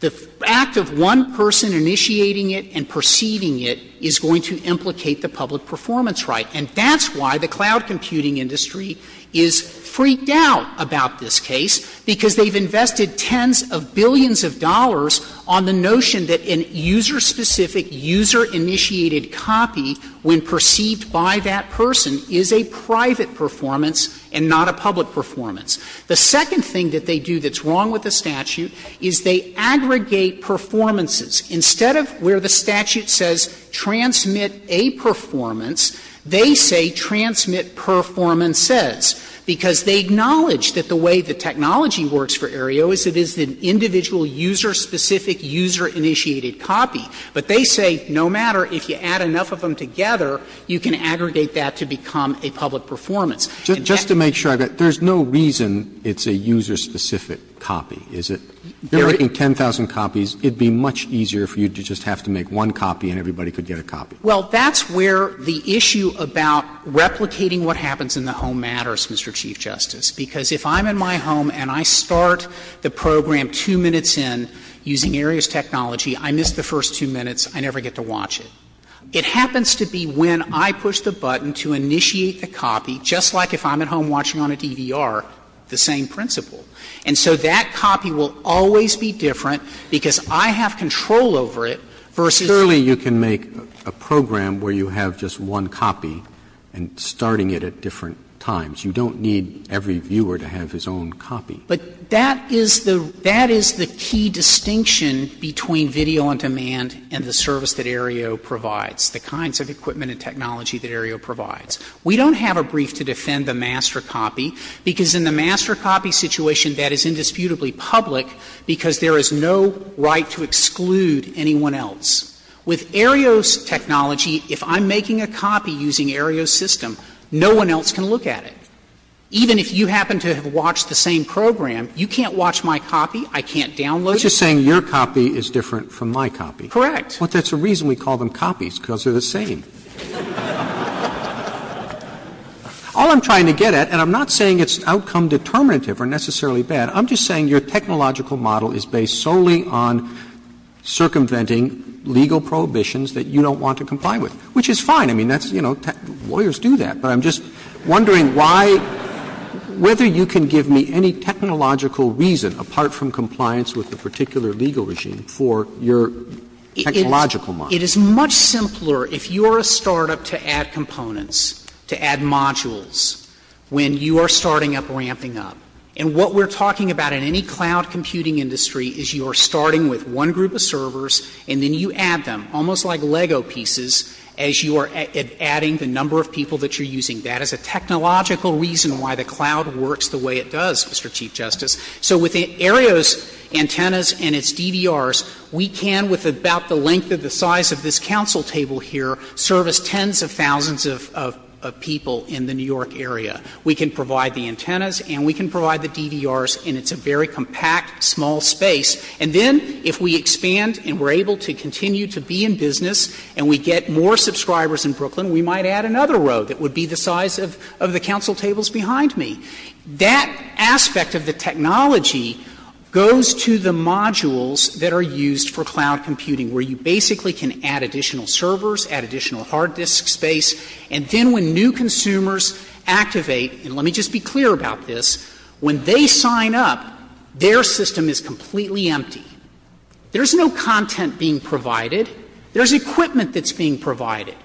the act of one person initiating it and perceiving it is going to implicate the public performance right. And that's why the cloud computing industry is freaked out about this case, because they've invested tens of billions of dollars on the notion that a user-specific, user-initiated copy, when perceived by that person, is a private performance and not a public performance. The second thing that they do that's wrong with the statute is they aggregate performances. Instead of where the statute says transmit a performance, they say transmit performances, because they acknowledge that the way the technology works for Aereo is it is an individual user-specific, user-initiated copy. But they say no matter if you add enough of them together, you can aggregate that to become a public performance. And that's the issue. Roberts, there's no reason it's a user-specific copy, is it? They're making 10,000 copies. It would be much easier for you to just have to make one copy and everybody could get a copy. Well, that's where the issue about replicating what happens in the home matters, Mr. Chief Justice. Because if I'm in my home and I start the program two minutes in using Aereo's technology, I miss the first two minutes, I never get to watch it. It happens to be when I push the button to initiate the copy, just like if I'm at home watching on a DVR, the same principle. And so that copy will always be different because I have control over it versus Surely you can make a program where you have just one copy and starting it at different times. You don't need every viewer to have his own copy. But that is the key distinction between video on demand and the service that Aereo provides, the kinds of equipment and technology that Aereo provides. We don't have a brief to defend the master copy, because in the master copy situation, that is indisputably public, because there is no right to exclude anyone else. With Aereo's technology, if I'm making a copy using Aereo's system, no one else can look at it. Even if you happen to have watched the same program, you can't watch my copy, I can't download it. Roberts, you're saying your copy is different from my copy. Correct. Well, that's the reason we call them copies, because they're the same. All I'm trying to get at, and I'm not saying it's outcome determinative or necessarily bad, I'm just saying your technological model is based solely on circumventing legal prohibitions that you don't want to comply with, which is fine. I mean, that's, you know, lawyers do that. But I'm just wondering why — whether you can give me any technological reason, apart from compliance with the particular legal regime, for your technological model. It is much simpler if you're a startup to add components, to add modules, when you are starting up, ramping up. And what we're talking about in any cloud computing industry is you are starting with one group of servers and then you add them, almost like Lego pieces, as you are adding the number of people that you're using. That is a technological reason why the cloud works the way it does, Mr. Chief Justice. So with Aereo's antennas and its DVRs, we can, with about the length of the size of this counsel table here, service tens of thousands of people in the New York area. We can provide the antennas and we can provide the DVRs, and it's a very compact, small space. And then if we expand and we're able to continue to be in business and we get more subscribers in Brooklyn, we might add another row that would be the size of the counsel tables behind me. That aspect of the technology goes to the modules that are used for cloud computing, where you basically can add additional servers, add additional hard disk space. And then when new consumers activate, and let me just be clear about this, when they sign up, their system is completely empty. There is no content being provided. There is equipment that's being provided.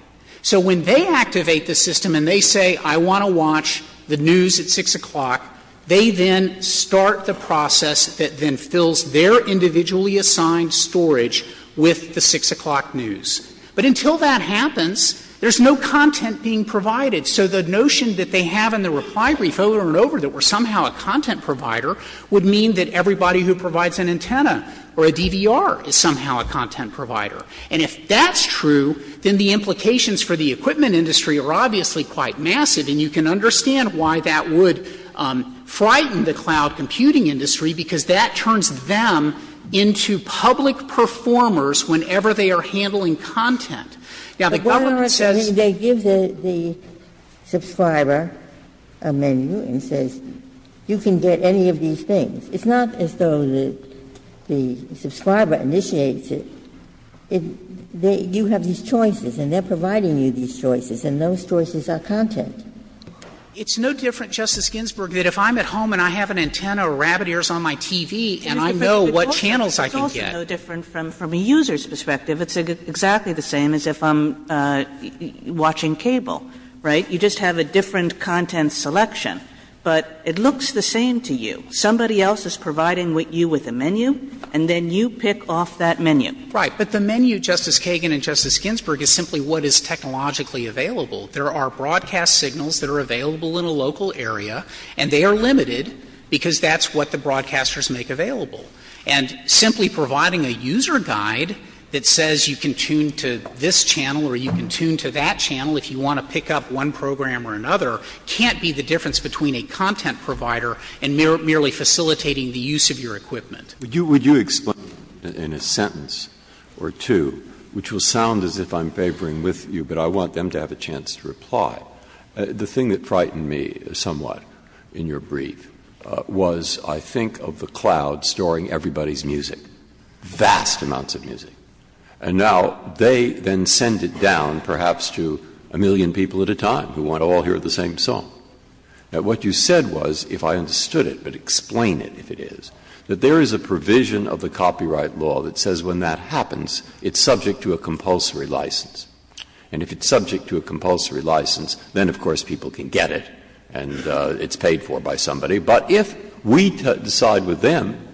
So when they activate the system and they say, I want to watch the news at 6 o'clock, they then start the process that then fills their individually assigned storage with the 6 o'clock news. But until that happens, there's no content being provided. So the notion that they have in the reply brief over and over that we're somehow a content provider would mean that everybody who provides an antenna or a DVR is somehow a content provider. And if that's true, then the implications for the equipment industry are obviously quite massive, and you can understand why that would frighten the cloud computing industry, because that turns them into public performers whenever they are handling content. Now, the government says they give the subscriber a menu and says, you can get any of these things. It's not as though the subscriber initiates it. You have these choices, and they are providing you these choices, and those choices are content. It's no different, Justice Ginsburg, that if I'm at home and I have an antenna or rabbit ears on my TV and I know what channels I can get. Kagan It's no different from a user's perspective. It's exactly the same as if I'm watching cable, right? You just have a different content selection. But it looks the same to you. Somebody else is providing you with a menu, and then you pick off that menu. Frederick Right. But the menu, Justice Kagan and Justice Ginsburg, is simply what is technologically available. There are broadcast signals that are available in a local area, and they are limited because that's what the broadcasters make available. And simply providing a user guide that says you can tune to this channel or you can tune to that channel if you want to pick up one program or another can't be the difference between a content provider and merely facilitating the use of your equipment. Breyer Would you explain in a sentence or two, which will sound as if I'm favoring with you, but I want them to have a chance to reply. The thing that frightened me somewhat in your brief was I think of the cloud storing everybody's music, vast amounts of music. And now they then send it down perhaps to a million people at a time who want to all hear the same song. Now, what you said was, if I understood it, but explain it if it is, that there is a provision of the copyright law that says when that happens, it's subject to a compulsory license. And if it's subject to a compulsory license, then of course people can get it and it's paid for by somebody. But if we decide with them,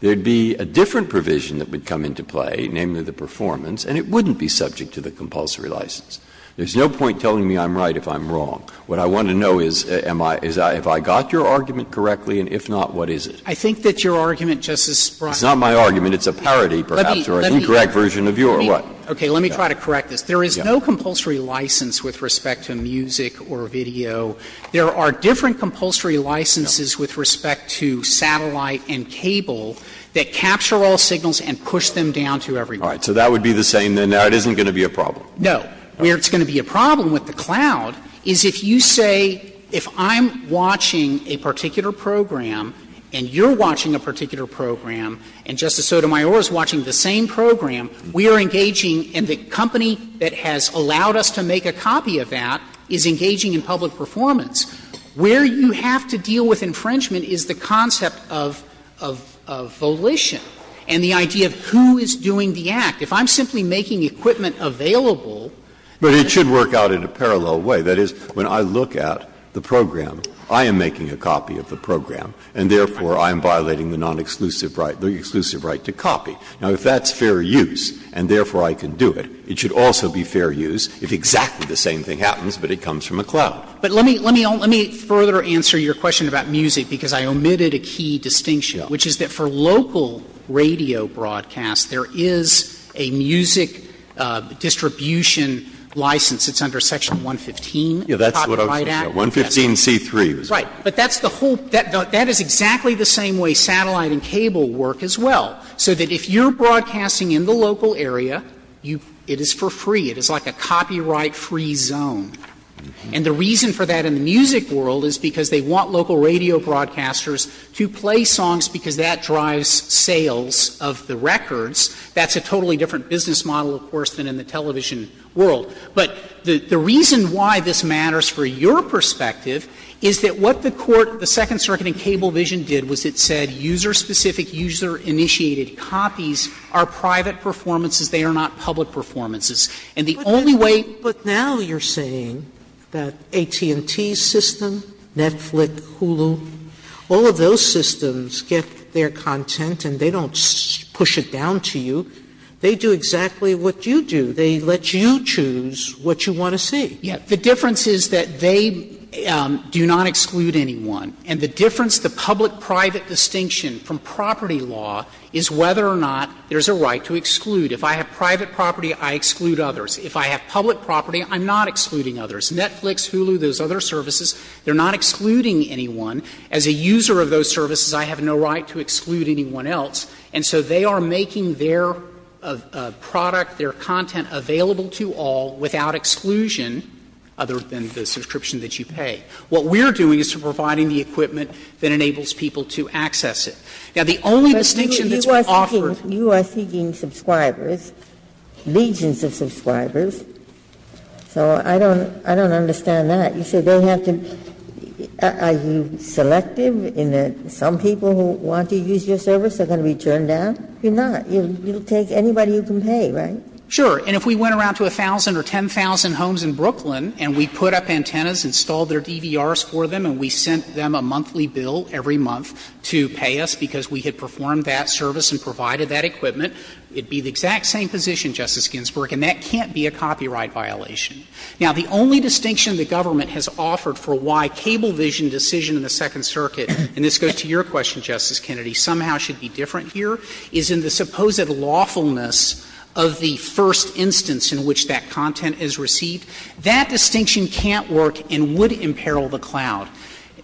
there would be a different provision that would come into play, namely the performance, and it wouldn't be subject to the compulsory license. There's no point telling me I'm right if I'm wrong. What I want to know is, am I — is if I got your argument correctly, and if not, what is it? Frederick I think that your argument, Justice Breyer Breyer It's not my argument. It's a parody perhaps or an incorrect version of yours. What? Frederick Okay. Let me try to correct this. There is no compulsory license with respect to music or video. There are different compulsory licenses with respect to satellite and cable that capture all signals and push them down to everyone. Breyer All right. So that would be the same. Now, it isn't going to be a problem. Frederick No. Where it's going to be a problem with the cloud is if you say, if I'm watching a particular program and you're watching a particular program and Justice Sotomayor is watching the same program, we are engaging in the company that has allowed us to make a copy of that is engaging in public performance. Where you have to deal with infringement is the concept of — of volition and the idea of who is doing the act. If I'm simply making equipment available Breyer But it should work out in a parallel way. That is, when I look at the program, I am making a copy of the program, and therefore I am violating the non-exclusive right, the exclusive right to copy. Now, if that's fair use and therefore I can do it, it should also be fair use if exactly the same thing happens, but it comes from a cloud. Frederick But let me — let me further answer your question about music, because I omitted a key distinction, which is that for local radio broadcasts, there is a music distribution license that's under Section 115 of the Copyright Act. Breyer 115c3 is what I was going to say. But that's the whole — that is exactly the same way satellite and cable work as well, so that if you're broadcasting in the local area, you — it is for free. It is like a copyright-free zone. And the reason for that in the music world is because they want local radio broadcasters to play songs because that drives sales of the records. That's a totally different business model, of course, than in the television world. But the reason why this matters for your perspective is that what the Court, the Second Circuit in Cablevision, did was it said user-specific, user-initiated copies are private performances, they are not public performances. And the only way you're saying that AT&T system, Netflix, Hulu, all of those systems get their content and they don't push it down to you, they do exactly what you do. They let you choose what you want to see. Yeah. The difference is that they do not exclude anyone. And the difference, the public-private distinction from property law is whether or not there's a right to exclude. If I have private property, I exclude others. If I have public property, I'm not excluding others. Netflix, Hulu, those other services, they're not excluding anyone. As a user of those services, I have no right to exclude anyone else. And so they are making their product, their content available to all without exclusion, other than the subscription that you pay. What we're doing is providing the equipment that enables people to access it. Now, the only distinction that's been offered to us is that they're not excluding anyone else. Ginsburg, you are seeking subscribers, legions of subscribers, so I don't understand that. You say they have to be – are you selective in that some people who want to use your service are going to be turned down? You're not. You'll take anybody you can pay, right? Sure. And if we went around to 1,000 or 10,000 homes in Brooklyn and we put up antennas, installed their DVRs for them, and we sent them a monthly bill every month to pay us because we had performed that service and provided that equipment, it would be the exact same position, Justice Ginsburg, and that can't be a copyright violation. Now, the only distinction the government has offered for why cable vision decision in the Second Circuit, and this goes to your question, Justice Kennedy, somehow should be different here, is in the supposed lawfulness of the first instance in which that content is received. That distinction can't work and would imperil the cloud.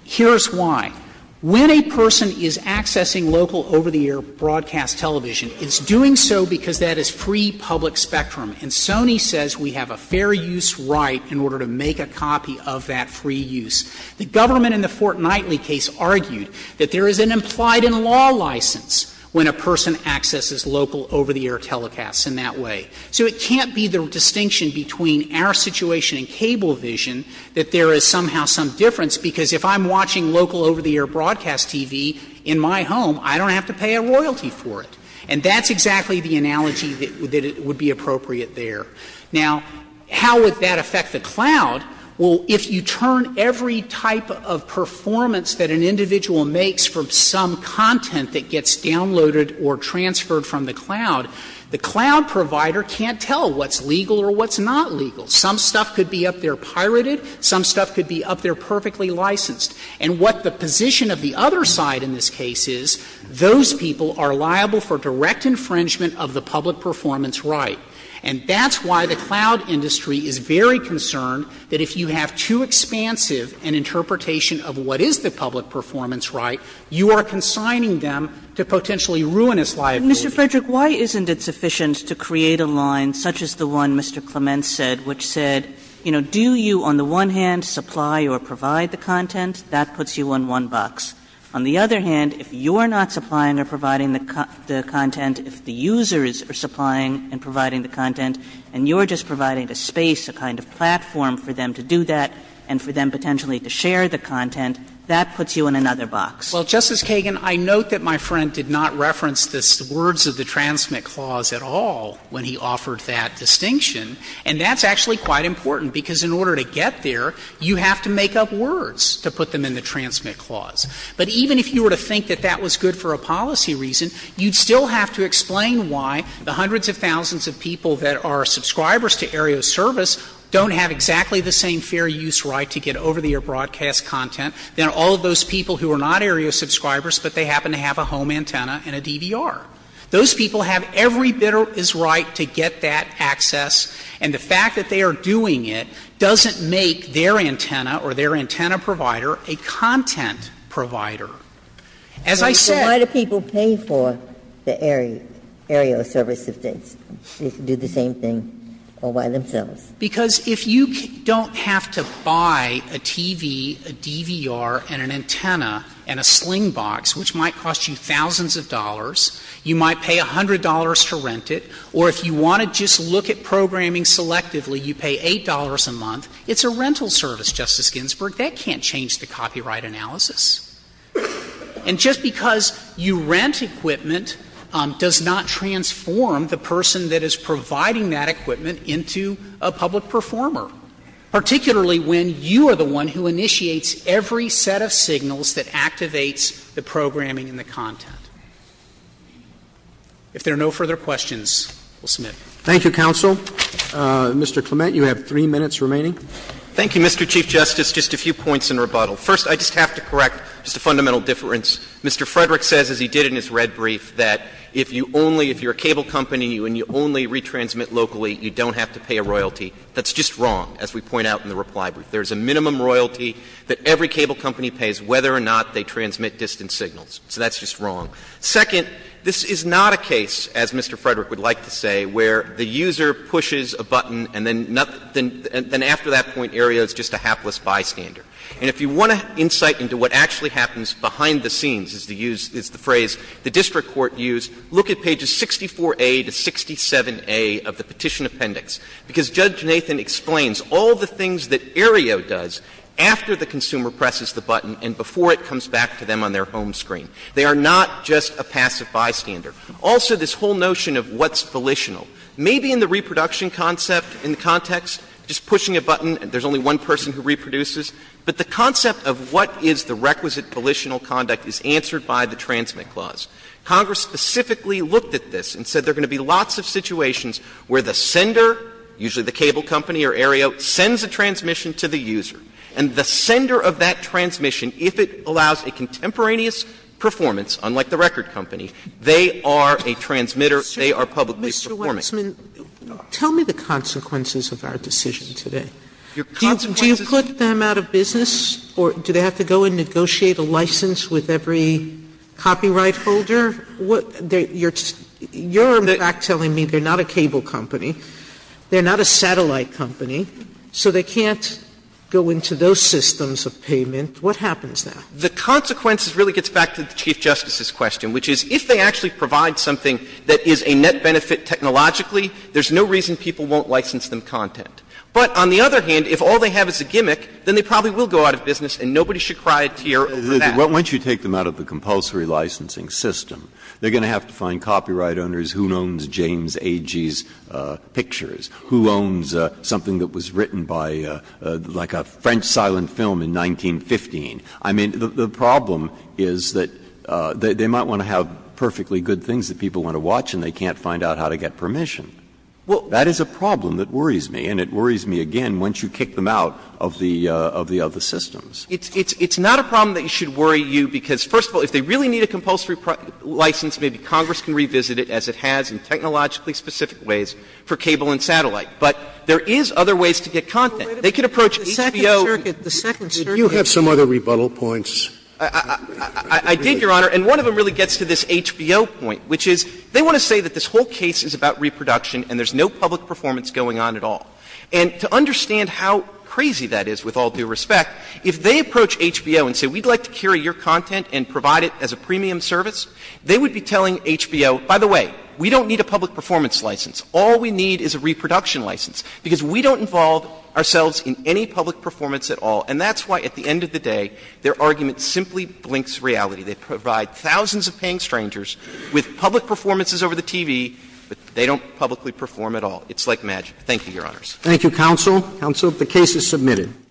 Here's why. When a person is accessing local over-the-air broadcast television, it's doing so because that is free public spectrum. And Sony says we have a fair use right in order to make a copy of that free use. The government in the Fort Knightley case argued that there is an implied-in-law license when a person accesses local over-the-air telecasts in that way. So it can't be the distinction between our situation and cable vision that there is somehow some difference, because if I'm watching local over-the-air broadcast TV in my home, I don't have to pay a royalty for it. And that's exactly the analogy that would be appropriate there. Now, how would that affect the cloud? Well, if you turn every type of performance that an individual makes from some content that gets downloaded or transferred from the cloud, the cloud provider can't tell what's legal or what's not legal. Some stuff could be up there pirated. Some stuff could be up there perfectly licensed. And what the position of the other side in this case is, those people are liable for direct infringement of the public performance right. And that's why the cloud industry is very concerned that if you have too expansive an interpretation of what is the public performance right, you are consigning them to potentially ruin its liability. Kagan Mr. Frederick, why isn't it sufficient to create a line such as the one Mr. Clement said, which said, do you on the one hand supply of provide the content, that puts you on one box, on the other hand, if you're not supplying or providing the content, if the users are supplying and providing the content, and you're just providing a space, a kind of platform for them to do that and for them potentially to share the content, that puts you in another box? Frederick Well, Justice Kagan, I note that my friend did not reference the words of the transmit clause at all when he offered that distinction. And that's actually quite important, because in order to get there, you have to make up words to put them in the transmit clause. But even if you were to think that that was good for a policy reason, you'd still have to explain why the hundreds of thousands of people that are subscribers to Aerial Service don't have exactly the same fair use right to get over-the-air broadcast content than all of those people who are not Aerial subscribers, but they happen to have a home antenna and a DVR. Those people have every bit of his right to get that access, and the fact that they are doing it doesn't make their antenna or their antenna provider a content provider. As I said ---- Ginsburg So why do people pay for the Aerial Service if they do the same thing all by themselves? Frederick Because if you don't have to buy a TV, a DVR, and an antenna, and a sling box, which might cost you thousands of dollars, you might pay $100 to rent it, or if you want to just look at programming selectively, you pay $8 a month. It's a rental service, Justice Ginsburg. That can't change the copyright analysis. And just because you rent equipment does not transform the person that is providing that equipment into a public performer, particularly when you are the one who initiates every set of signals that activates the programming and the content. If there are no further questions, we'll submit. Thank you, counsel. Mr. Clement, you have 3 minutes remaining. Thank you, Mr. Chief Justice. Just a few points in rebuttal. First, I just have to correct just a fundamental difference. Mr. Frederick says, as he did in his red brief, that if you only ---- if you are a cable company and you only retransmit locally, you don't have to pay a royalty. That's just wrong, as we point out in the reply brief. There is a minimum royalty that every cable company pays whether or not they transmit distant signals. So that's just wrong. Second, this is not a case, as Mr. Frederick would like to say, where the user pushes a button and then after that point, Aereo is just a hapless bystander. And if you want an insight into what actually happens behind the scenes, is the phrase the district court used, look at pages 64A to 67A of the Petition Appendix, because Judge Nathan explains all the things that Aereo does after the consumer presses the button and before it comes back to them on their home screen. They are not just a passive bystander. Also, this whole notion of what's volitional. Maybe in the reproduction concept, in the context, just pushing a button, there's only one person who reproduces, but the concept of what is the requisite volitional conduct is answered by the transmit clause. Congress specifically looked at this and said there are going to be lots of situations where the sender, usually the cable company or Aereo, sends a transmission to the user, and the sender of that transmission, if it allows a contemporaneous performance, unlike the record company, they are a transmitter, they are publicly Sotomayor, tell me the consequences of our decision today. Do you put them out of business, or do they have to go and negotiate a license with every copyright holder? You're in fact telling me they're not a cable company, they're not a satellite company, so they can't go into those systems of payment. What happens now? The consequences really gets back to the Chief Justice's question, which is if they actually provide something that is a net benefit technologically, there's no reason people won't license them content. But on the other hand, if all they have is a gimmick, then they probably will go out of business and nobody should crioteer over that. Breyer. Once you take them out of the compulsory licensing system, they're going to have to find copyright owners who owns James Agee's pictures, who owns something that was written by like a French silent film in 1915. I mean, the problem is that they might want to have perfectly good things that people want to watch and they can't find out how to get permission. That is a problem that worries me, and it worries me again once you kick them out of the other systems. It's not a problem that should worry you because, first of all, if they really need a compulsory license, maybe Congress can revisit it as it has in technologically specific ways for cable and satellite. But there is other ways to get content. They could approach HBO. So the second circuit is that they want to say that this whole case is about reproduction and there is no public performance going on at all. And to understand how crazy that is, with all due respect, if they approach HBO and say we would like to carry your content and provide it as a premium service, they would be telling HBO, by the way, we don't need a public performance license. All we need is a reproduction license, because we don't involve ourselves in any public performance at all. And that's why, at the end of the day, their argument simply blinks reality. They provide thousands of paying strangers with public performances over the TV, but they don't publicly perform at all. It's like magic. Thank you, Your Honors. Roberts. Thank you, counsel. Counsel, the case is submitted.